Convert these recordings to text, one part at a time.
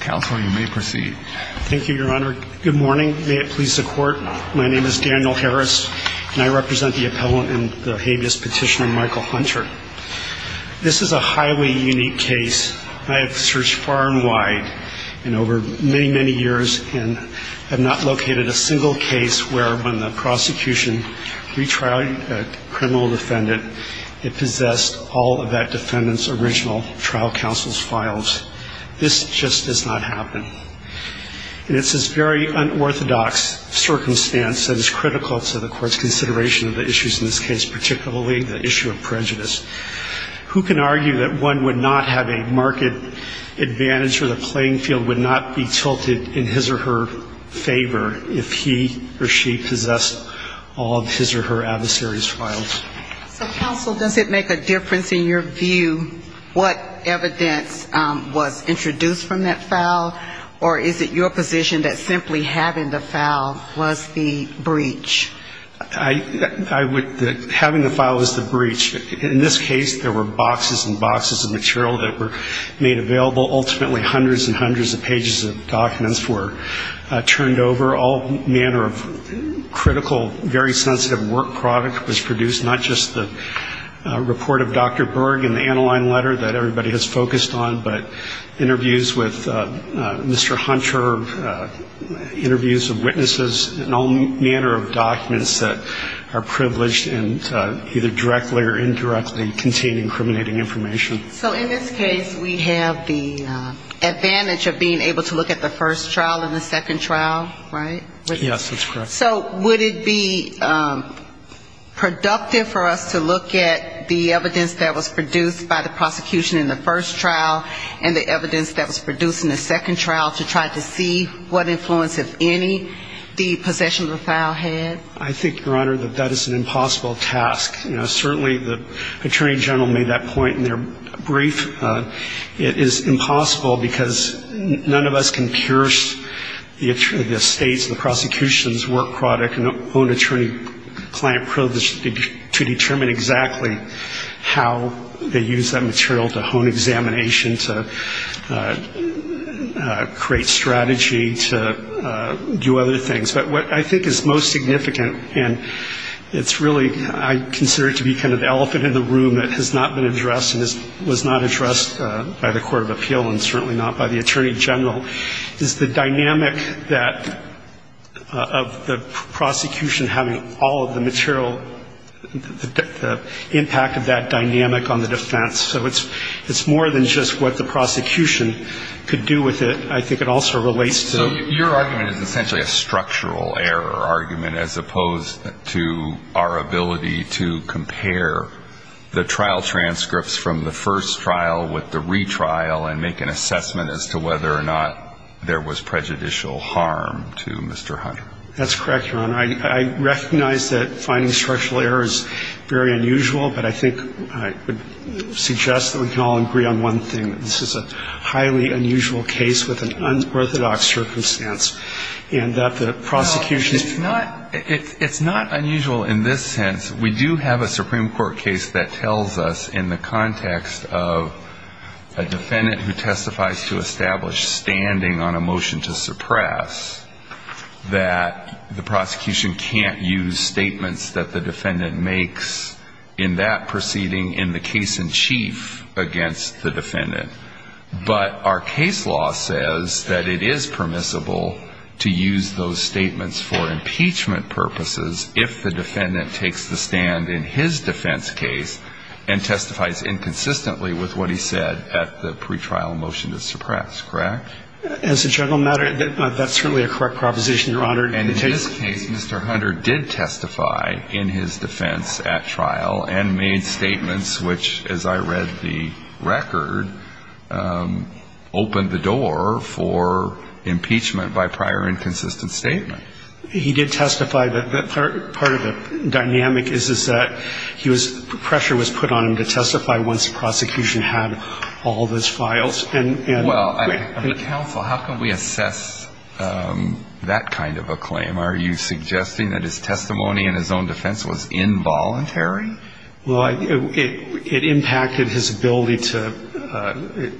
Counsel, you may proceed. Thank you, Your Honor. Good morning. May it please the Court. My name is Daniel Harris, and I represent the appellant in the habeas petition on Michael Hunter. This is a highly unique case. I have searched far and wide and over many, many years and have not located a single case where, when the prosecution retried a criminal defendant, it possessed all of that defendant's original trial counsel's files. This just does not happen. And it's this very unorthodox circumstance that is critical to the Court's consideration of the issues in this case, particularly the issue of prejudice. Who can argue that one would not have a market advantage or the playing field would not be tilted in his or her favor if he or she possessed all of his or her adversary's files? So, counsel, does it make a difference in your view what evidence was introduced from that file, or is it your position that simply having the file was the breach? Having the file was the breach. In this case, there were boxes and boxes of material that were made available. Ultimately, hundreds and hundreds of pages of documents were turned over. All manner of critical, very sensitive work product was produced, not just the report of Dr. Berg and the Aniline letter that everybody has focused on, but interviews with Mr. Hunter, interviews of witnesses, and all manner of documents that are privileged and either directly or indirectly contain incriminating information. So in this case, we have the advantage of being able to look at the first trial and the second trial, right? Yes, that's correct. So would it be productive for us to look at the evidence that was produced by the prosecution in the first trial and the evidence that was produced in the second trial to try to see what influence, if any, the possession of the file had? I think, Your Honor, that that is an impossible task. You know, certainly the Attorney General made that point in their brief. It is impossible because none of us can pierce the state's and the prosecution's work product and own attorney-client privilege to determine exactly how they use that material to hone examination, to create strategy, to do other things. But what I think is most significant, and it's really, I consider it to be kind of the thing that has not been addressed and was not addressed by the Court of Appeal and certainly not by the Attorney General, is the dynamic that of the prosecution having all of the material, the impact of that dynamic on the defense. So it's more than just what the prosecution could do with it. I think it also relates to the... So your argument is essentially a structural error argument as opposed to our ability to make transcripts from the first trial with the retrial and make an assessment as to whether or not there was prejudicial harm to Mr. Hunter? That's correct, Your Honor. I recognize that finding structural error is very unusual, but I think I would suggest that we can all agree on one thing, that this is a highly unusual case with an unorthodox circumstance, and that the prosecution's... It's not unusual in this sense. We do have a Supreme Court case that tells us in the context of a defendant who testifies to establish standing on a motion to suppress, that the prosecution can't use statements that the defendant makes in that proceeding in the case in chief against the defendant. But our case law says that it is permissible to use those statements for impeachment purposes if the defendant takes the stand in his defense case and testifies inconsistently with what he said at the pretrial motion to suppress, correct? As a general matter, that's certainly a correct proposition, Your Honor. And in this case, Mr. Hunter did testify in his defense at trial and made statements which, as I read the record, opened the door for impeachment by prior inconsistency in the statement. He did testify. Part of the dynamic is that pressure was put on him to testify once the prosecution had all those files. Well, counsel, how can we assess that kind of a claim? Are you suggesting that his testimony in his own defense was involuntary? Well, it impacted his ability to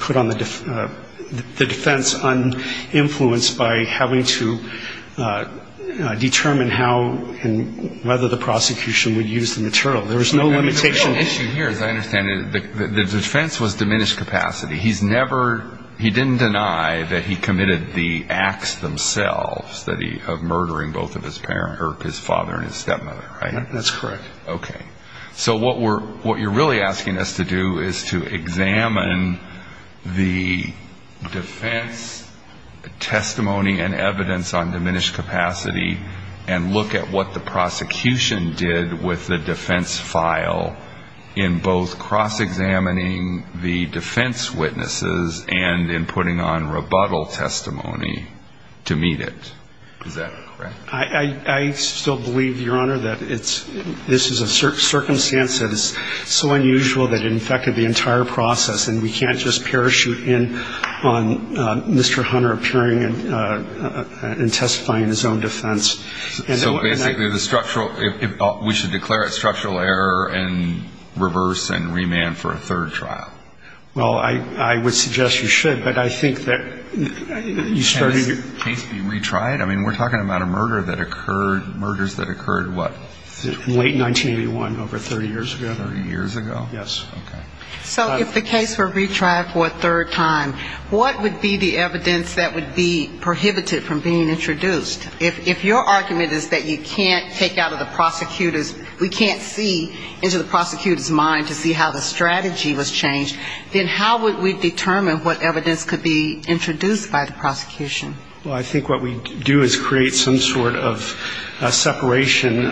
put on the defense uninfluenced by having to make a statement to determine how and whether the prosecution would use the material. There was no limitation issue here, as I understand it. The defense was diminished capacity. He's never he didn't deny that he committed the acts themselves that he of murdering both of his parents or his father and his stepmother, right? That's correct. Okay. So what we're what you're really asking us to do is to examine the defense testimony and evidence on diminished capacity and look at what the prosecution did with the defense file in both cross-examining the defense witnesses and in putting on rebuttal testimony to meet it. Is that correct? I still believe, Your Honor, that it's this is a circumstance that is so unusual that it infected the entire process and we can't just parachute in on Mr. Hunter appearing and testifying in his own defense. So basically the structural, we should declare it structural error and reverse and remand for a third trial? Well, I would suggest you should, but I think that you started Can this case be retried? I mean, we're talking about a murder that occurred, murders that occurred, what? In late 1981, over 30 years ago. 30 years ago? Yes. Okay. So if the case were retried for a third time, what would be the evidence that would be prohibited from being introduced? If your argument is that you can't take out of the prosecutor's, we can't see into the prosecutor's mind to see how the strategy was changed, then how would we determine what evidence could be introduced by the prosecution? Well, I think what we do is create some sort of separation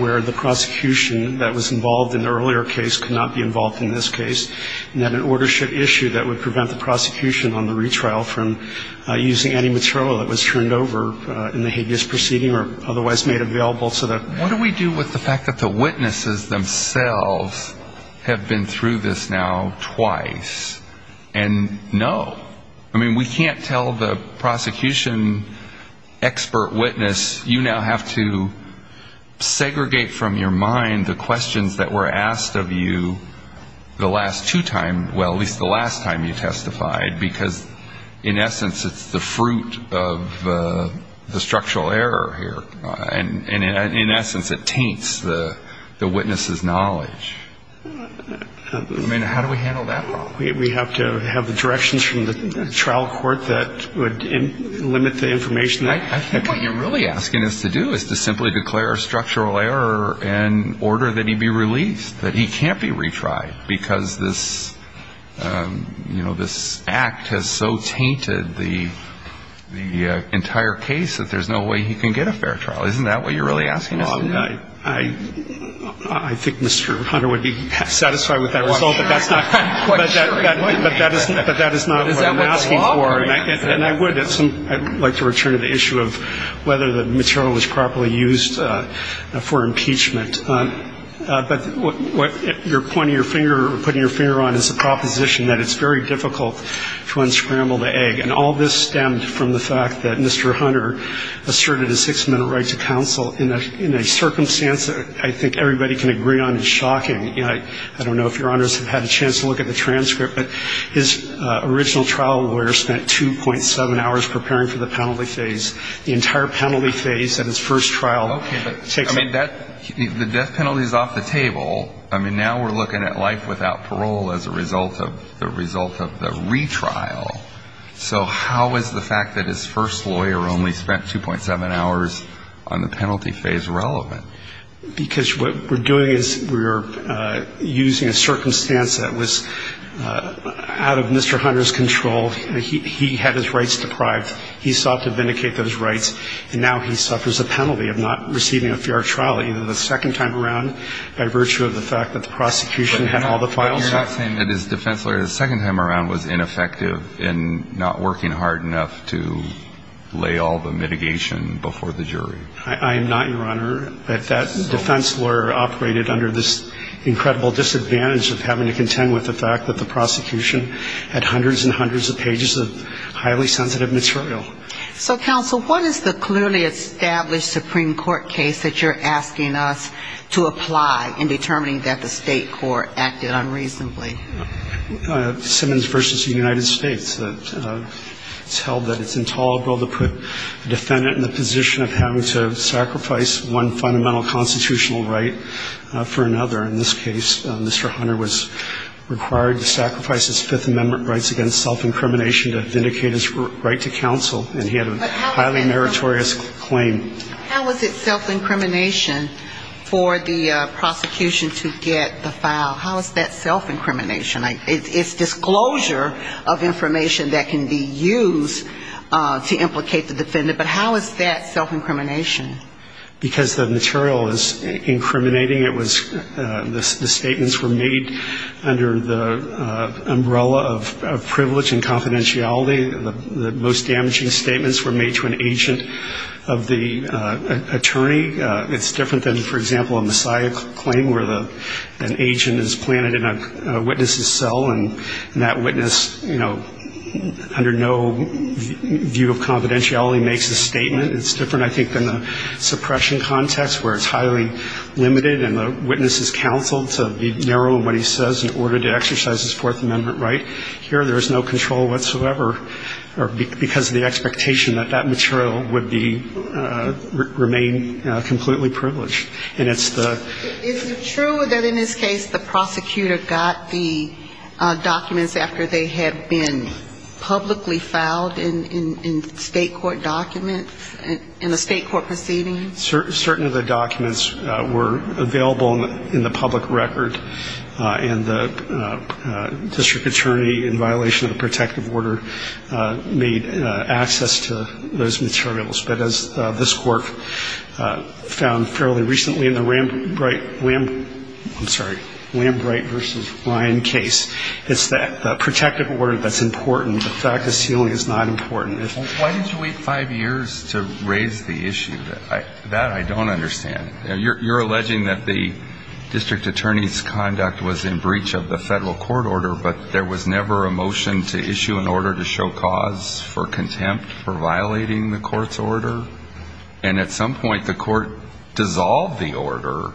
where the prosecution that was involved in the earlier case could not be involved in this case, and then an order should issue that would prevent the prosecution on the retrial from using any material that was turned over in the hideous proceeding or otherwise made available so that What do we do with the fact that the witnesses themselves have been through this now twice? And no. I mean, we can't tell the prosecution expert witness, you now have to segregate from your mind the questions that were asked of you the last two times, well, at least the last time you testified, because in essence, it's the fruit of the structural error here. And in essence, it taints the witness's knowledge. I mean, how do we handle that problem? We have to have the directions from the trial court that would limit the information. I think what you're really asking us to do is to simply declare a structural error and order that he be released, that he can't be retried, because this, you know, this act has so tainted the entire case that there's no way he can get a fair trial. Isn't that what you're really asking us to do? I think Mr. Hunter would be satisfied with that result, but that's not I'm quite sure. But that is not what I'm asking for. And I would at some point like to return to the issue of whether the material was properly used for impeachment. But what you're pointing your finger or putting your finger on is a proposition that it's very difficult to unscramble the egg. And all this stemmed from the fact that Mr. Hunter asserted a six-minute right to counsel in a circumstance that I think everybody can agree on is shocking. I don't know if Your Honors have had a chance to look at the transcript, but his original trial lawyer spent 2.7 hours preparing for the penalty phase. The entire penalty phase at his first trial takes I mean, the death penalty is off the table. I mean, now we're looking at life without parole as a result of the retrial. So how is the fact that his first lawyer only spent 2.7 hours on the penalty phase relevant? Because what we're doing is we're using a circumstance that was out of Mr. Hunter's control. He had his rights deprived. He sought to vindicate those rights. And now he suffers a penalty of not receiving a fair trial either the second time around by virtue of the fact that the prosecution had all the files. But you're not saying that his defense lawyer the second time around was ineffective I am not, Your Honor, that that defense lawyer operated under this incredible disadvantage of having to contend with the fact that the prosecution had hundreds and hundreds of pages of highly sensitive material. So, counsel, what is the clearly established Supreme Court case that you're asking us to apply in determining that the state court acted unreasonably? Simmons v. United States. It's held that it's intolerable to put a defendant in the position of having to sacrifice one fundamental constitutional right for another. In this case, Mr. Hunter was required to sacrifice his Fifth Amendment rights against self-incrimination to vindicate his right to counsel. And he had a highly meritorious claim. How is it self-incrimination for the prosecution to get the file? How is that self-incrimination? It's disclosure of information that can be used to implicate the defendant. But how is that self-incrimination? Because the material is incriminating. The statements were made under the umbrella of privilege and confidentiality. The most damaging statements were made to an agent of the attorney. It's different than, for example, a messiah claim where an agent is planted in a witness's cell and that witness, you know, under no view of confidentiality makes a statement. It's different, I think, than the suppression context where it's highly limited and the witness is counseled to be narrow in what he says in order to exercise his Fourth Amendment right. Here there's no control whatsoever because of the expectation that that material would be remain completely privileged. And it's the... Is it true that in this case the prosecutor got the documents after they had been publicly filed in state court documents, in a state court proceeding? Certain of the documents were available in the public record. And the district attorney, in violation of the protective order, made access to those materials. This court found fairly recently in the Lambright versus Ryan case. It's the protective order that's important. The fact is healing is not important. Why did you wait five years to raise the issue? That I don't understand. You're alleging that the district attorney's conduct was in breach of the federal court order, but there was never a motion to issue an order to show cause for contempt for violating the court's order? And at some point the court dissolved the order?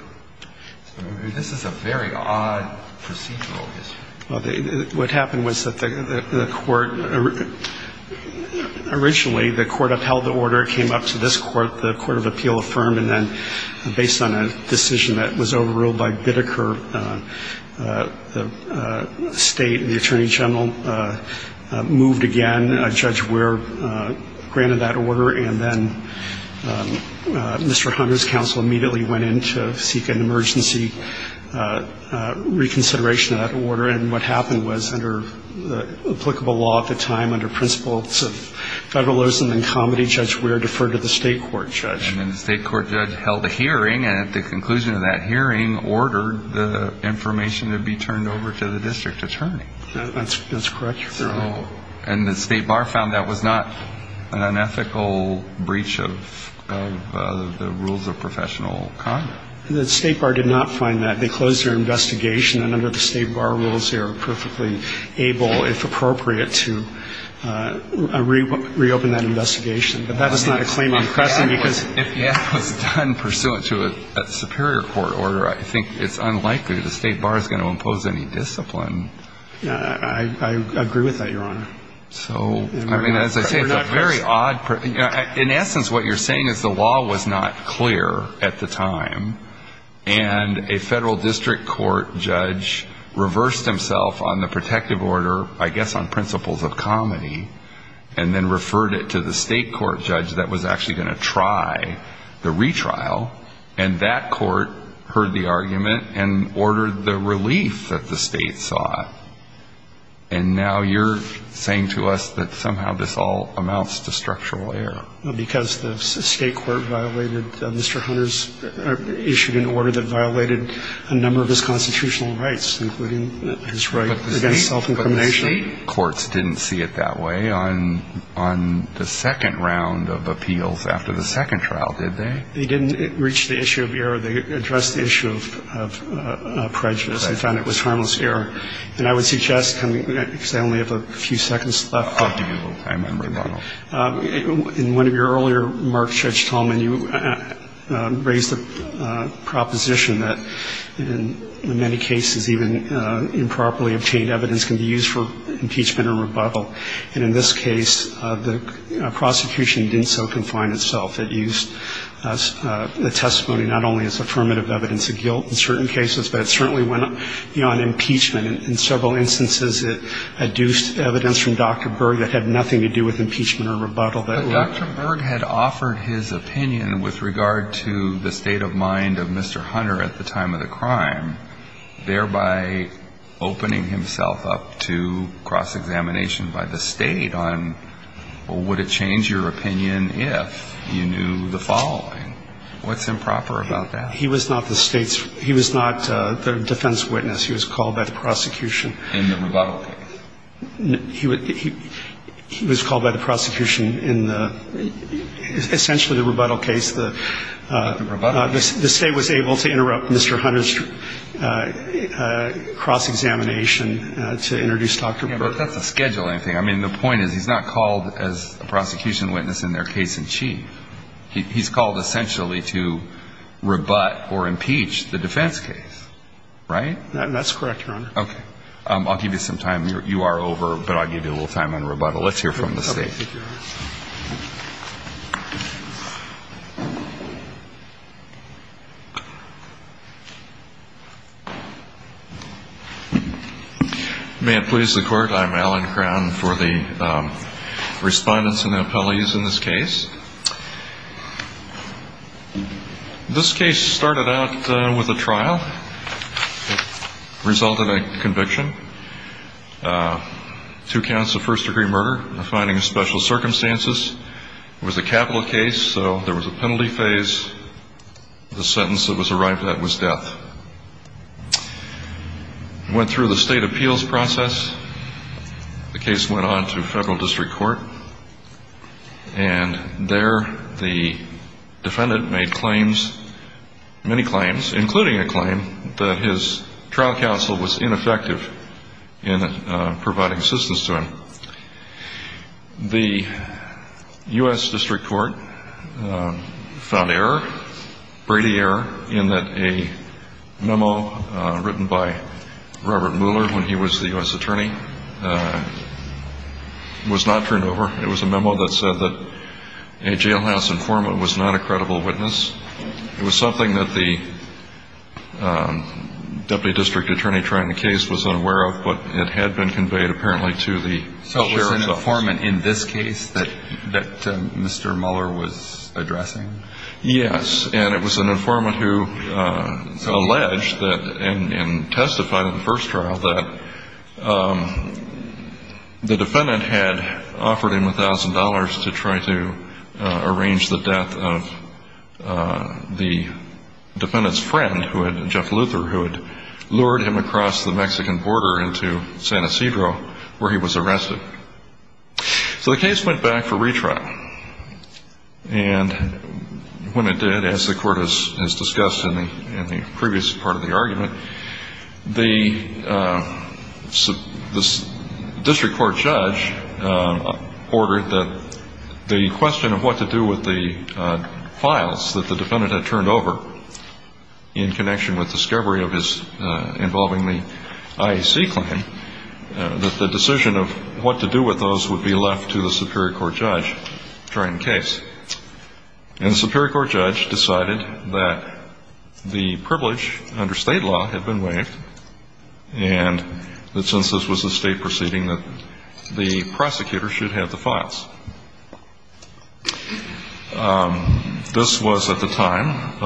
This is a very odd procedural issue. What happened was that the court originally, the court upheld the order. It came up to this court. The court of appeal affirmed. And then based on a decision that was overruled by Bideker, the state and the attorney general moved again. And then a Judge Weir granted that order. And then Mr. Hunter's counsel immediately went in to seek an emergency reconsideration of that order. And what happened was, under applicable law at the time, under principles of federalism and comedy, Judge Weir deferred to the state court judge. And then the state court judge held a hearing, and at the conclusion of that hearing, ordered the information to be turned over to the district attorney. That's correct, Your Honor. And the state bar found that was not an unethical breach of the rules of professional comedy? The state bar did not find that. They closed their investigation, and under the state bar rules they were perfectly able, if appropriate, to reopen that investigation. But that is not a claim in Crescent, because if that was done pursuant to a superior court order, I think it's unlikely the state bar is going to impose any discipline. I agree with that, Your Honor. I mean, as I say, it's a very odd, in essence, what you're saying is the law was not clear at the time, and a federal district court judge reversed himself on the protective order, I guess on principles of comedy, and then referred it to the state court judge that was actually going to try the retrial, and that court heard the argument and ordered the relief that the state sought. And now you're saying to us that somehow this all amounts to structural error. Well, because the state court violated Mr. Hunter's issued an order that violated a number of his constitutional rights, including his right against self-incrimination. But the state courts didn't see it that way on the second round of appeals after the second trial, did they? They didn't reach the issue of error. They addressed the issue of prejudice and found it was harmless error. And I would suggest, because I only have a few seconds left. In one of your earlier remarks, Judge Tallman, you raised the proposition that in many cases even improperly obtained evidence can be used for impeachment or rebuttal, and in this case, the prosecution didn't so confine itself. It used the testimony not only as affirmative evidence of guilt in certain cases, but it certainly went beyond impeachment. In several instances, it adduced evidence from Dr. Berg that had nothing to do with impeachment or rebuttal. But Dr. Berg had offered his opinion with regard to the state of mind of Mr. Hunter at the time of the crime, thereby opening himself up to cross-examination by the state on, well, would it change your opinion if you knew the following? What's improper about that? He was not the defense witness. He was called by the prosecution in the rebuttal case. The state was able to interrupt Mr. Hunter's cross-examination to introduce Dr. Berg. That's a scheduling thing. I mean, the point is he's not called as a prosecution witness in their case in chief. He's called essentially to rebut or impeach the defense case, right? That's correct, Your Honor. Okay. I'll give you some time. I'll give you some time for the respondents and the appellees in this case. This case started out with a trial. It resulted in a conviction, two counts of first-degree murder, finding of special circumstances. It was a capital case, so there was a penalty phase. The sentence that was arrived at was death. Went through the state appeals process. The case went on to federal district court. And there the defendant made claims, many claims, including a claim that his trial counsel was ineffective in providing assistance to him. The U.S. district court found error, Brady error, in that a memo written by Robert Mueller when he was the U.S. attorney was not turned over. It was a memo that said that a jailhouse informant was not a credible witness. It was something that the deputy district attorney trying the case was unaware of, but it had been conveyed apparently to the sheriff's office. So it was an informant in this case that Mr. Mueller was addressing? Yes, and it was an informant who alleged and testified in the first trial that the defendant had offered him $1,000 to try to arrange the death of the defendant's friend, Jeff Luther, who had lured him across the Mexican border into San Ysidro where he was arrested. So the case went back for retrial. And when it did, as the court has discussed in the previous part of the argument, the district court judge ordered that the question of what to do with the files that the defendant had turned over in connection with discovery of his involving the IAC claim, that the decision of what to do with those would be left to the superior court judge during the case. And the superior court judge decided that the privilege under state law had been waived and that since this was a state proceeding, that the prosecutor should have the files. This was at the time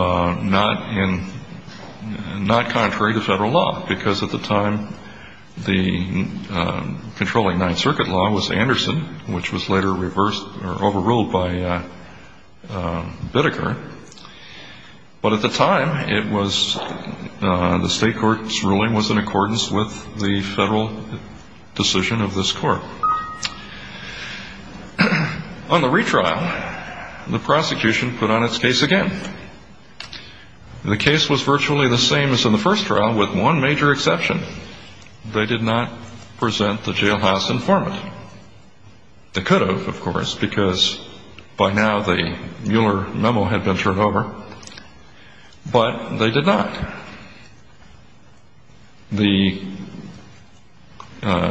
not contrary to federal law, because at the time the controlling Ninth Circuit law was Anderson, which was later reversed or overruled by Bideker. But at the time, the state court's ruling was in accordance with the federal decision of this court. On the retrial, the prosecution put on its case again. The case was virtually the same as in the first trial, with one major exception. They did not present the jailhouse informant. They could have, of course, because by now the Mueller memo had been turned over. But they did not. The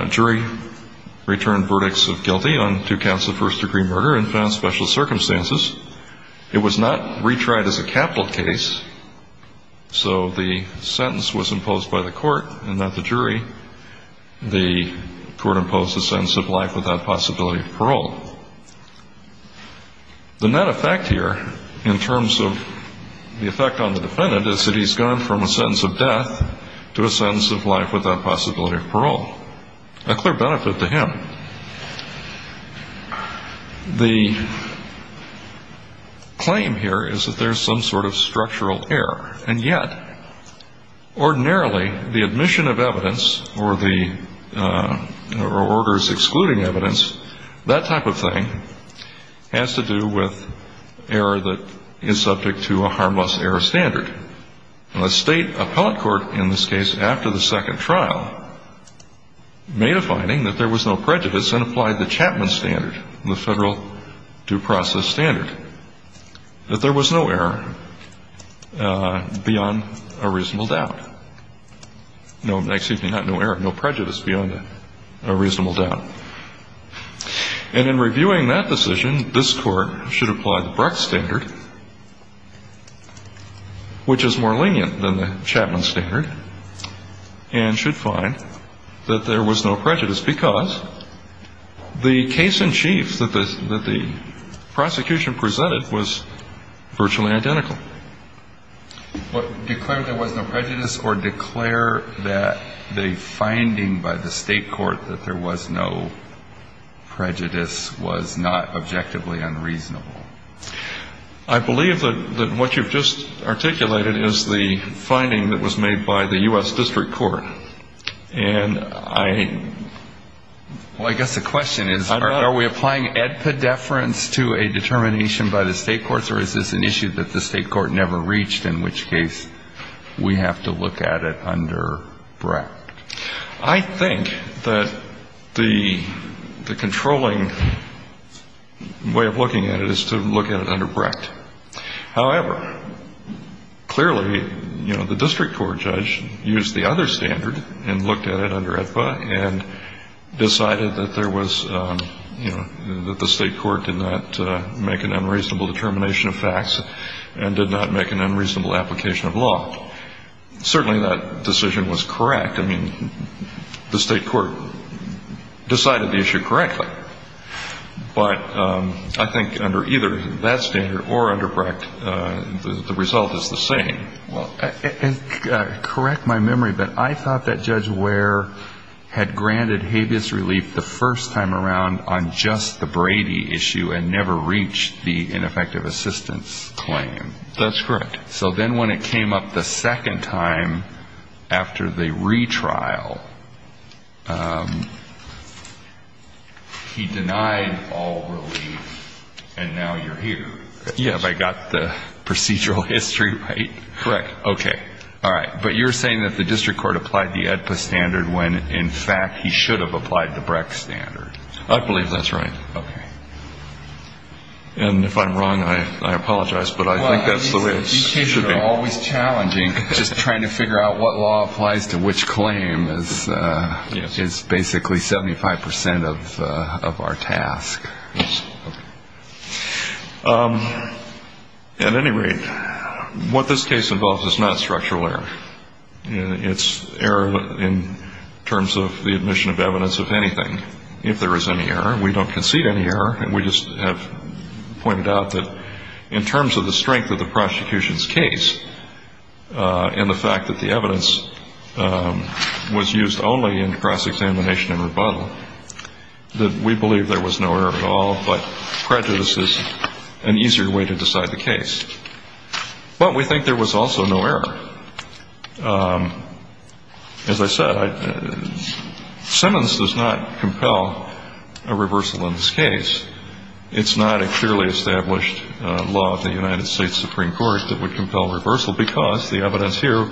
jury returned verdicts of guilty on two counts of first-degree murder and found special circumstances. It was not retried as a capital case. So the sentence was imposed by the court and not the jury. The court imposed the sentence of life without possibility of parole. The net effect here, in terms of the effect on the defendant, is that he's gone from a sentence of death to a sentence of life without possibility of parole. A clear benefit to him. The claim here is that there's some sort of structural error. And yet, ordinarily, the admission of evidence or the orders excluding evidence, that type of thing, has to do with error that is subject to a harmless error standard. A state appellate court, in this case, after the second trial, made a finding that there was no prejudice and applied the Chapman standard, the federal due process standard, that there was no error beyond a reasonable doubt. No, excuse me, not no error, no prejudice beyond a reasonable doubt. And in reviewing that decision, this court should apply the Bruck standard, which is more lenient than the Chapman standard, and should find that there was no prejudice because the case-in-chief that the prosecution presented was virtually identical. What, declare there was no prejudice or declare that the finding by the state court that there was no prejudice? No prejudice was not objectively unreasonable. I believe that what you've just articulated is the finding that was made by the U.S. District Court. And I... Well, I guess the question is, are we applying epidefference to a determination by the state courts, or is this an issue that the state court never reached, in which case we have to look at it under Bruck? I think that the controlling way of looking at it is to look at it under Brecht. However, clearly, you know, the district court judge used the other standard and looked at it under Aetba and decided that there was, you know, that the state court did not make an unreasonable determination of facts and did not make an unreasonable application of law. Certainly that decision was correct. I mean, the state court decided the issue correctly. But I think under either that standard or under Brecht, the result is the same. Well, correct my memory, but I thought that Judge Ware had granted habeas relief the first time around on just the Brady issue and never reached the ineffective assistance claim. That's correct. So then when it came up the second time after the retrial, he denied all relief, and now you're here. Yes, I got the procedural history right. Correct. Okay. All right. But you're saying that the district court applied the Aetba standard when, in fact, he should have applied the Brecht standard. I believe that's right. And if I'm wrong, I apologize. But I think that's the way it should be. Just trying to figure out what law applies to which claim is basically 75 percent of our task. At any rate, what this case involves is not structural error. It's error in terms of the admission of evidence of anything. If there is any error, we don't concede any error. And we just have pointed out that in terms of the strength of the prosecution's case and the fact that the evidence was used only in cross-examination and rebuttal, that we believe there was no error at all, but prejudice is an easier way to decide the case. But we think there was also no error. As I said, Simmons does not compel a reversal in this case. It's not a clearly established law of the United States Supreme Court that would compel reversal because the evidence here,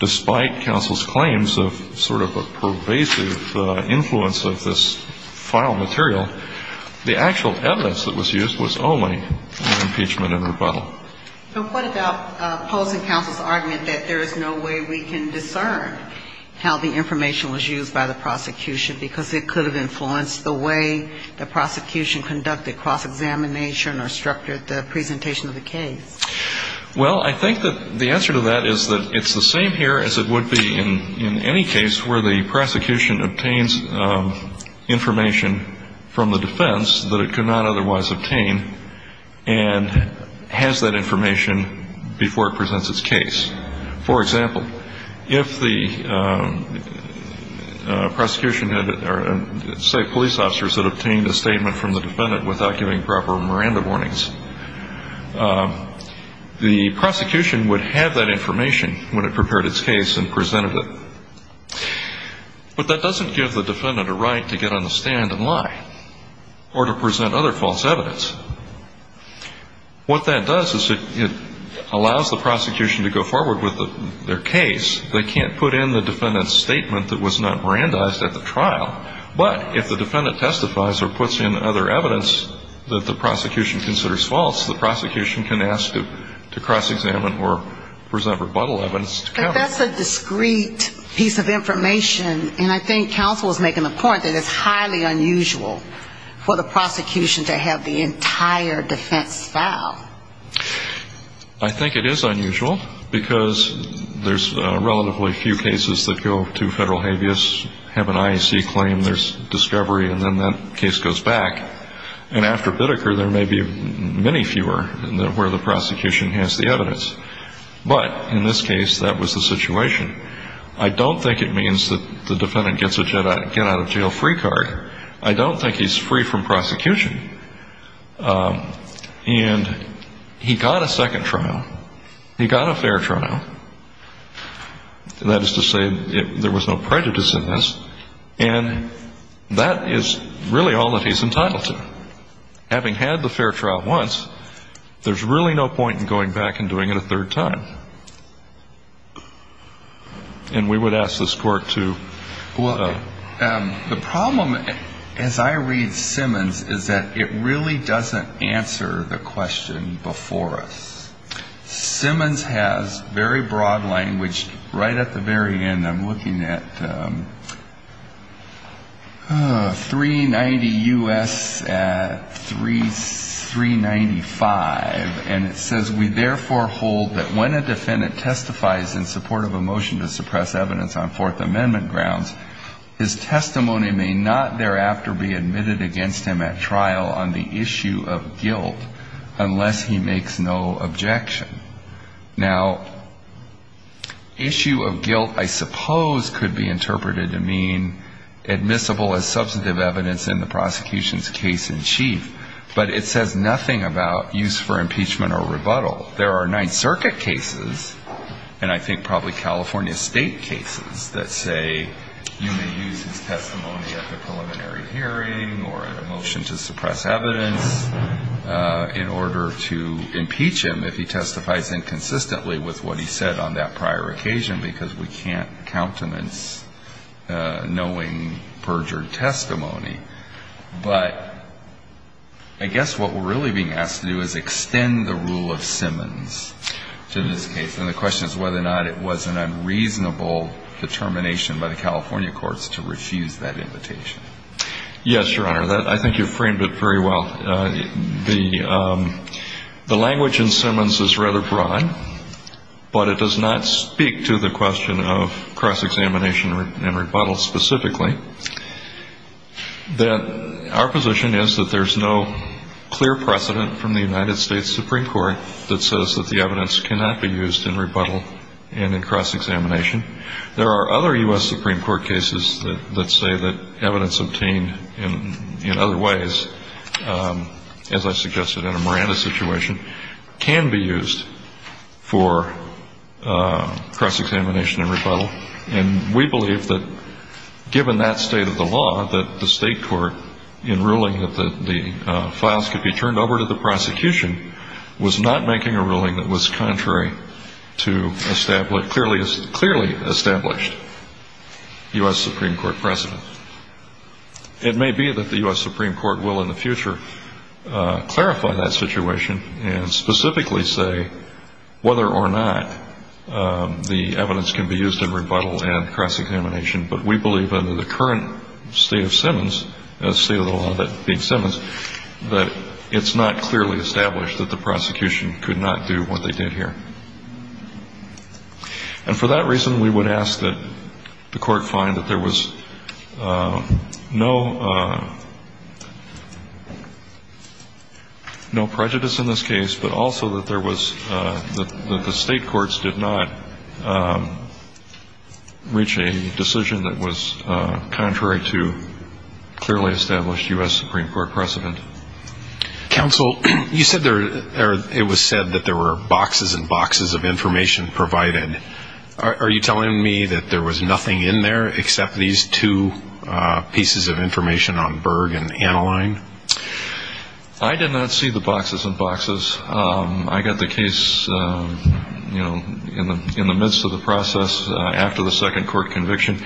despite counsel's claims of sort of a pervasive influence of this file material, the actual evidence that was used was only in impeachment and rebuttal. So what about opposing counsel's argument that there is no way we can discern how the information was used by the prosecution because it could have influenced the way the prosecution conducted cross-examination or structured the presentation of the case? Well, I think that the answer to that is that it's the same here as it would be in any case where the prosecution obtains information from the defense that it could not otherwise obtain and has that information before it presents its case. For example, if the prosecution or, say, police officers had obtained a statement from the defendant without giving proper Miranda warnings, the prosecution would have that information when it prepared its case and presented it. But that doesn't give the defendant a right to get on the stand and lie or to present other false evidence. What that does is it allows the prosecution to go forward with their case. They can't put in the defendant's statement that was not Mirandized at the trial. But if the defendant testifies or puts in other evidence that the prosecution considers false, the prosecution can ask to cross-examine or present rebuttal evidence to counsel. But that's a discrete piece of information, and I think counsel is making a point that it's highly unusual for the prosecution to have the entire defense file. I think it is unusual because there's relatively few cases that go to federal habeas, have an IEC claim, there's discovery, and then that case goes back. And after Biddeker, there may be many fewer where the prosecution has the evidence. But in this case, that was the situation. I don't think it means that the defendant gets a get-out-of-jail-free card. I don't think he's free from prosecution. And he got a second trial. He got a fair trial. That is to say, there was no prejudice in this. And that is really all that he's entitled to. Having had the fair trial once, there's really no point in going back and doing it a third time. And we would ask this Court to ---- The problem, as I read Simmons, is that it really doesn't answer the question before us. Simmons has very broad language right at the very end. I'm looking at 390 U.S. 395, and it says, we therefore hold that when a defendant testifies in support of a motion to suppress evidence on Fourth Amendment grounds, his testimony may not thereafter be admitted against him at trial on the issue of guilt unless he makes no objection. Now, issue of guilt, I suppose, could be interpreted to mean admissible as substantive evidence in the prosecution's case in chief. But it says nothing about use for impeachment or rebuttal. There are Ninth Circuit cases, and I think probably California State cases, that say you may use his testimony at the preliminary hearing or at a motion to suppress evidence in order to impeach him if he testifies in support of the Fourth Amendment. And I think the question is whether or not it was an unreasonable determination by the California courts to refuse that invitation. Yes, Your Honor. I think you framed it very well. The language in Simmons is rather broad. But it does not speak to the question of cross-examination and rebuttal specifically. Our position is that there's no clear precedent from the United States Supreme Court that says that the evidence cannot be used in rebuttal and in cross-examination. There are other U.S. Supreme Court cases that say that evidence obtained in other ways, as I suggested in a Miranda situation, can be used. And we believe that, given that state of the law, that the state court, in ruling that the files could be turned over to the prosecution, was not making a ruling that was contrary to clearly established U.S. Supreme Court precedent. It may be that the U.S. Supreme Court will in the future clarify that situation and specifically say, whether or not the evidence can be used in rebuttal and cross-examination. But we believe under the current state of Simmons, the state of the law being Simmons, that it's not clearly established that the prosecution could not do what they did here. And for that reason, we would ask that the court find that there was no prejudice in this case, but also that the state courts did not reach a decision that was contrary to clearly established U.S. Supreme Court precedent. Counsel, it was said that there were boxes and boxes of information provided. Are you telling me that there was nothing in there except these two pieces of information on Berg and Annaline? I did not see the boxes and boxes. I got the case in the midst of the process, after the second court conviction,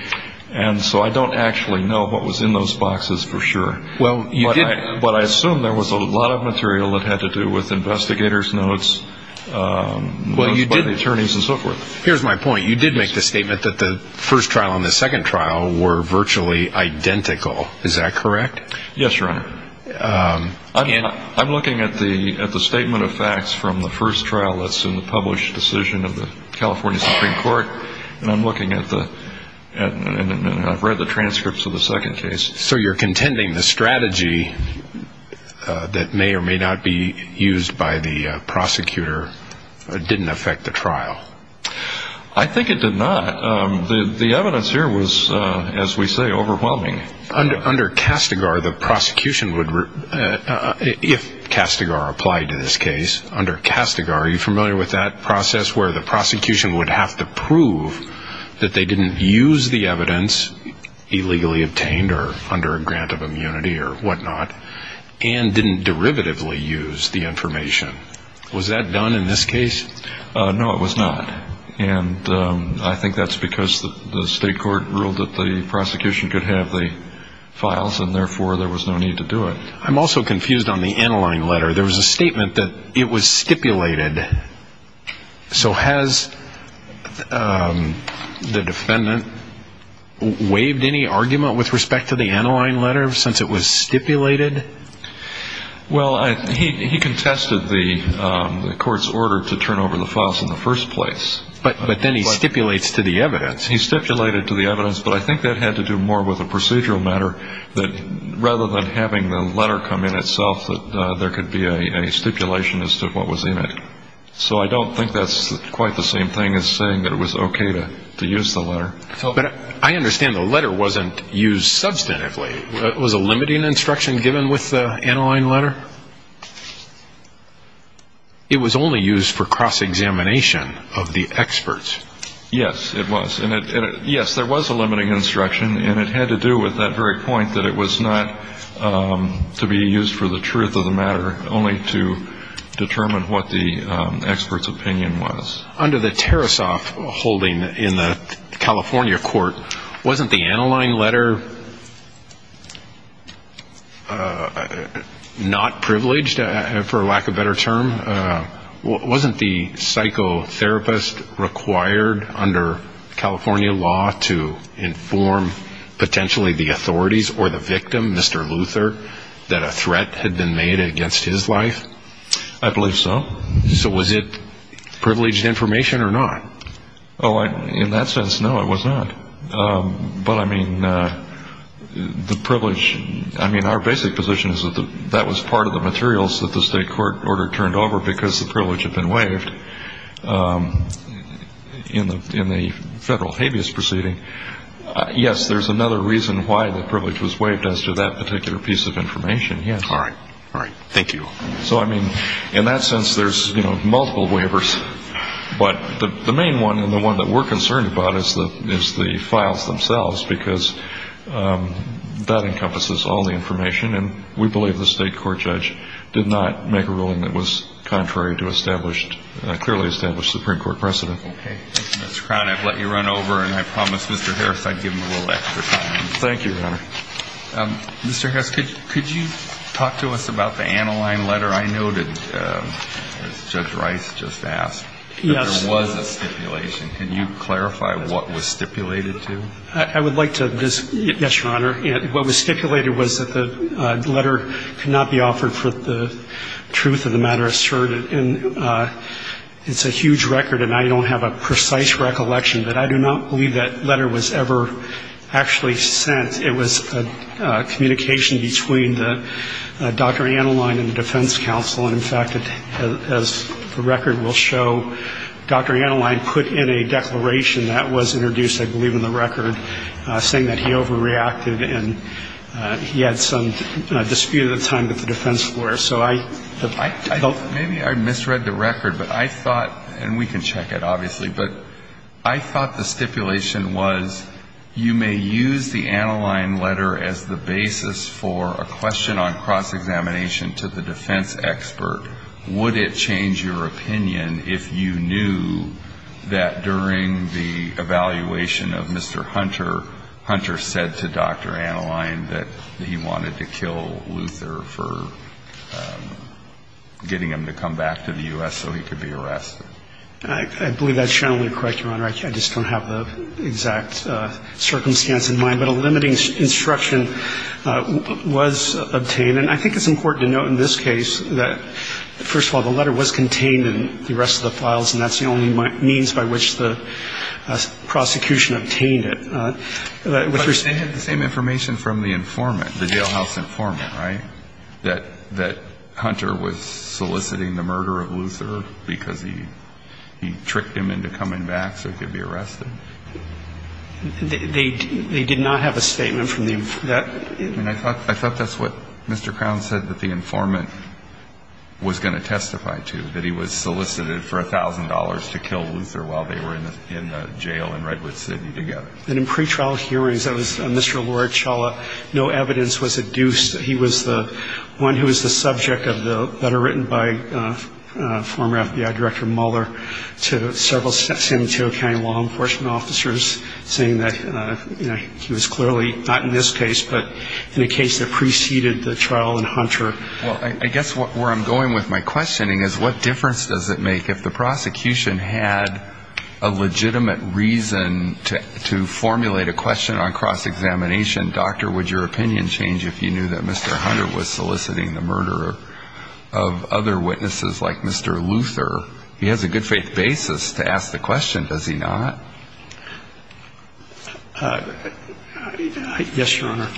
and so I don't actually know what was in those boxes for sure. But I assume there was a lot of material that had to do with investigators' notes, notes by the attorneys and so forth. Here's my point. You did make the statement that the first trial and the second trial were virtually identical. Is that correct? Yes, Your Honor. I'm looking at the statement of facts from the first trial that's in the published decision of the California Supreme Court, and I've read the transcripts of the second case. So you're contending the strategy that may or may not be used by the prosecutor didn't affect the trial? I think it did not. The evidence here was, as we say, overwhelming. Under CASTIGAR, the prosecution would, if CASTIGAR applied to this case, under CASTIGAR, are you familiar with that process where the prosecution would have to prove that they didn't use the evidence illegally obtained or under a grant of immunity or whatnot and didn't derivatively use the information? Was that done in this case? No, it was not. And I think that's because the state court ruled that the prosecution could have the files, and therefore there was no need to do it. I'm also confused on the Aniline letter. There was a statement that it was stipulated. So has the defendant waived any argument with respect to the Aniline letter since it was stipulated? Well, he contested the court's order to turn over the files in the first place. But then he stipulates to the evidence. He stipulated to the evidence, but I think that had to do more with a procedural matter, that rather than having the letter come in itself, that there could be a stipulation as to what was in it. So I don't think that's quite the same thing as saying that it was okay to use the letter. But I understand the letter wasn't used substantively. Was a limiting instruction given with the Aniline letter? It was only used for cross-examination of the experts. Yes, it was. Yes, there was a limiting instruction, and it had to do with that very point that it was not to be used for the truth of the matter, only to determine what the expert's opinion was. Under the Tarasoff holding in the California court, wasn't the Aniline letter not privileged, for lack of a better term? Wasn't the psychotherapist required under California law to inform potentially the authorities or the victim, Mr. Luther, that a threat had been made against his life? I believe so. So was it privileged information or not? Oh, in that sense, no, it was not. But I mean, the privilege, I mean, our basic position is that that was part of the materials that the state court order turned over because the privilege had been waived in the federal habeas proceeding. Yes, there's another reason why the privilege was waived as to that particular piece of information, yes. All right. All right. Thank you. So, I mean, in that sense, there's, you know, multiple waivers. But the main one and the one that we're concerned about is the files themselves, because that encompasses all the information, and we believe the state court judge did not make a ruling that was contrary to clearly established Supreme Court precedent. Okay. Thank you, Mr. Crown. I've let you run over, and I promised Mr. Harris I'd give him a little extra time. Thank you, Your Honor. Mr. Harris, could you talk to us about the Annaline letter I noted that Judge Rice just asked? Yes. There was a stipulation. Can you clarify what was stipulated to? The letter, what was stipulated was that the letter could not be offered for the truth of the matter asserted. And it's a huge record, and I don't have a precise recollection, but I do not believe that letter was ever actually sent. It was a communication between Dr. Annaline and the defense counsel, and, in fact, as the record will show, Dr. Annaline put in a declaration that was introduced, I believe in the record, saying that he overreacted and he had some dispute at the time with the defense lawyer. Maybe I misread the record, but I thought, and we can check it, obviously, but I thought the stipulation was you may use the Annaline letter as the basis for a question on cross-examination to the defense expert. Would it change your opinion if you knew that during the evaluation of Mr. Hunter, Hunter said to Dr. Annaline that he wanted to kill Luther for getting him to come back to the U.S. so he could be arrested? I believe that's generally correct, Your Honor. I just don't have the exact circumstance in mind, but a limiting instruction was obtained, and I think it's important to note in this case that, first of all, the letter was contained in the rest of the files, and that's the only means by which the prosecution obtained it. But they had the same information from the informant, the jailhouse informant, right, that Hunter was soliciting the murder of Luther because he tricked him into coming back so he could be arrested? They did not have a statement from the informant. I thought that's what Mr. Crown said that the informant was going to testify to, that he was solicited for $1,000 to kill Luther while they were in the jail in Redwood City together. And in pretrial hearings, that was Mr. Lorichala. No evidence was adduced that he was the one who was the subject of the letter written by former FBI Director Mueller to several San Mateo County law enforcement officers saying that he was clearly not in this case, but in a case that preceded the trial in Hunter. Well, I guess where I'm going with my questioning is what difference does it make if the prosecution had a legitimate reason to formulate a question on cross-examination? And, Doctor, would your opinion change if you knew that Mr. Hunter was soliciting the murder of other witnesses like Mr. Luther? He has a good-faith basis to ask the question, does he not? Yes, Your Honor.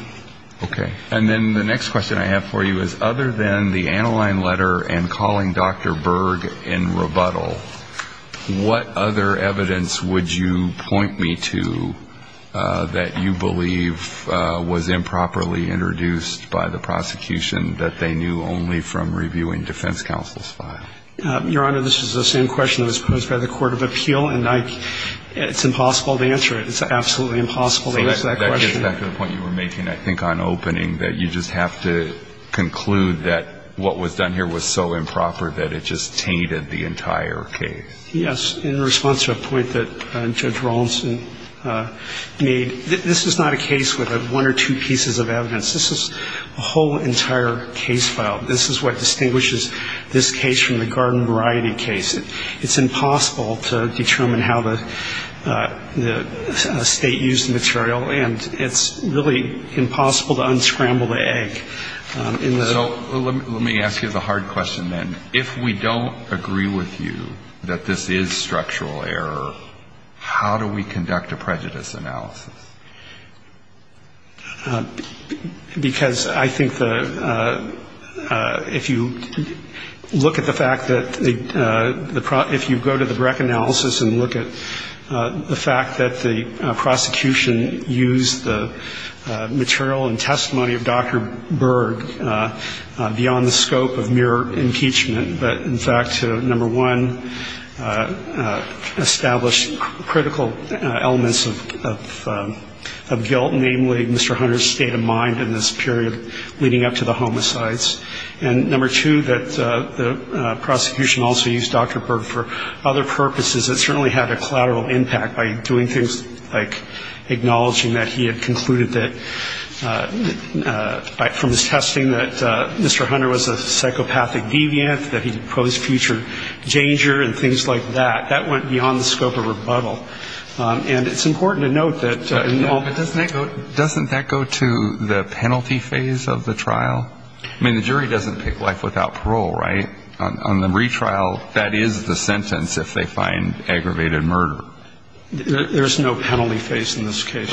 Okay. And then the next question I have for you is, other than the Aniline letter and calling Dr. Berg in rebuttal, what other evidence would you point me to that you believe was improperly introduced by the prosecution that they knew only from reviewing defense counsel's file? Your Honor, this is the same question that was posed by the Court of Appeal, and it's impossible to answer it. It's absolutely impossible to answer that question. So that gets back to the point you were making, I think, on opening, that you just have to conclude that what was done here was so improper that it just tainted the entire case. Yes. In response to a point that Judge Rawlinson made, this is not a case with one or two pieces of evidence. This is a whole entire case file. This is what distinguishes this case from the garden variety case. It's impossible to determine how the State used the material, and it's really impossible to unscramble the egg. So let me ask you the hard question then. If we don't agree with you that this is structural error, how do we conduct a prejudice analysis? Because I think the ‑‑ if you look at the fact that the ‑‑ if you go to the Breck analysis and look at the fact that the prosecution used the material and testimony of Dr. Berg beyond the scope of mere impeachment, but in fact, number one, established critical elements of guilt, namely Mr. Hunter's state of mind in this period leading up to the homicides, and number two, that the prosecution also used Dr. Berg for other purposes that certainly had a collateral impact by doing things like acknowledging that he had concluded that from his testing that Mr. Hunter was a psychopathic deviant, that he posed future danger and things like that. That went beyond the scope of rebuttal. And it's important to note that ‑‑ Doesn't that go to the penalty phase of the trial? I mean, the jury doesn't pick life without parole, right? On the retrial, that is the sentence if they find aggravated murder. There's no penalty phase in this case.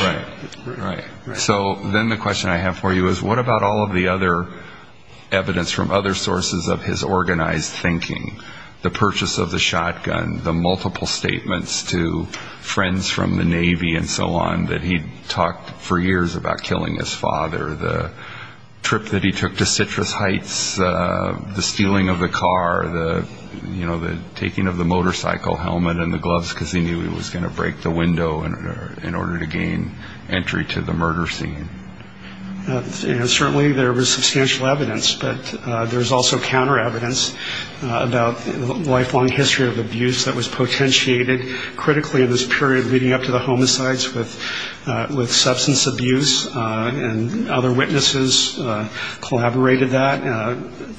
Right. So then the question I have for you is what about all of the other evidence from other sources of his organized thinking, the purchase of the shotgun, the multiple statements to friends from the Navy and so on that he talked for years about killing his father, the trip that he took to Citrus Heights, the stealing of the car, the taking of the motorcycle helmet and the gloves because he knew he was going to break the window in order to get entry to the murder scene. Certainly there was substantial evidence, but there's also counter evidence about lifelong history of abuse that was potentiated critically in this period leading up to the homicides with substance abuse. And other witnesses collaborated that.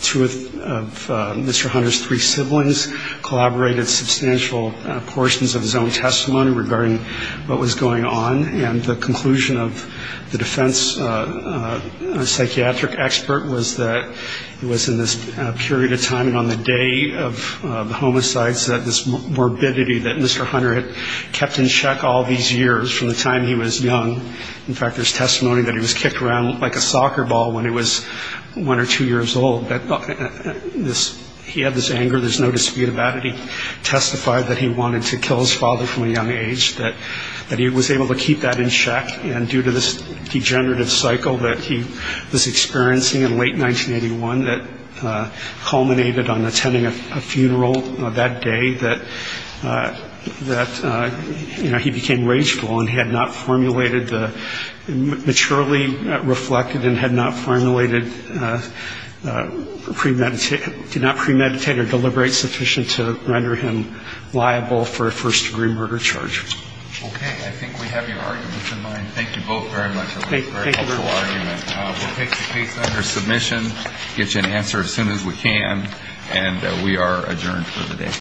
Two of Mr. Hunter's three siblings collaborated substantial portions of his own testimony regarding what was going on. The conclusion of the defense psychiatric expert was that it was in this period of time and on the day of the homicides that this morbidity that Mr. Hunter had kept in check all these years from the time he was young. In fact, there's testimony that he was kicked around like a soccer ball when he was one or two years old. He had this anger. There's no dispute about it. He testified that he wanted to kill his father from a young age, that he was able to keep that in check. And due to this degenerative cycle that he was experiencing in late 1981 that culminated on attending a funeral that day, that he became rageful and had not formulated, maturely reflected and had not formulated, did not premeditate or deliberately sufficient to render him liable for a first-degree murder charge. Okay. I think we have your arguments in mind. Thank you both very much. We'll take the case under submission, get you an answer as soon as we can, and we are adjourned for the day.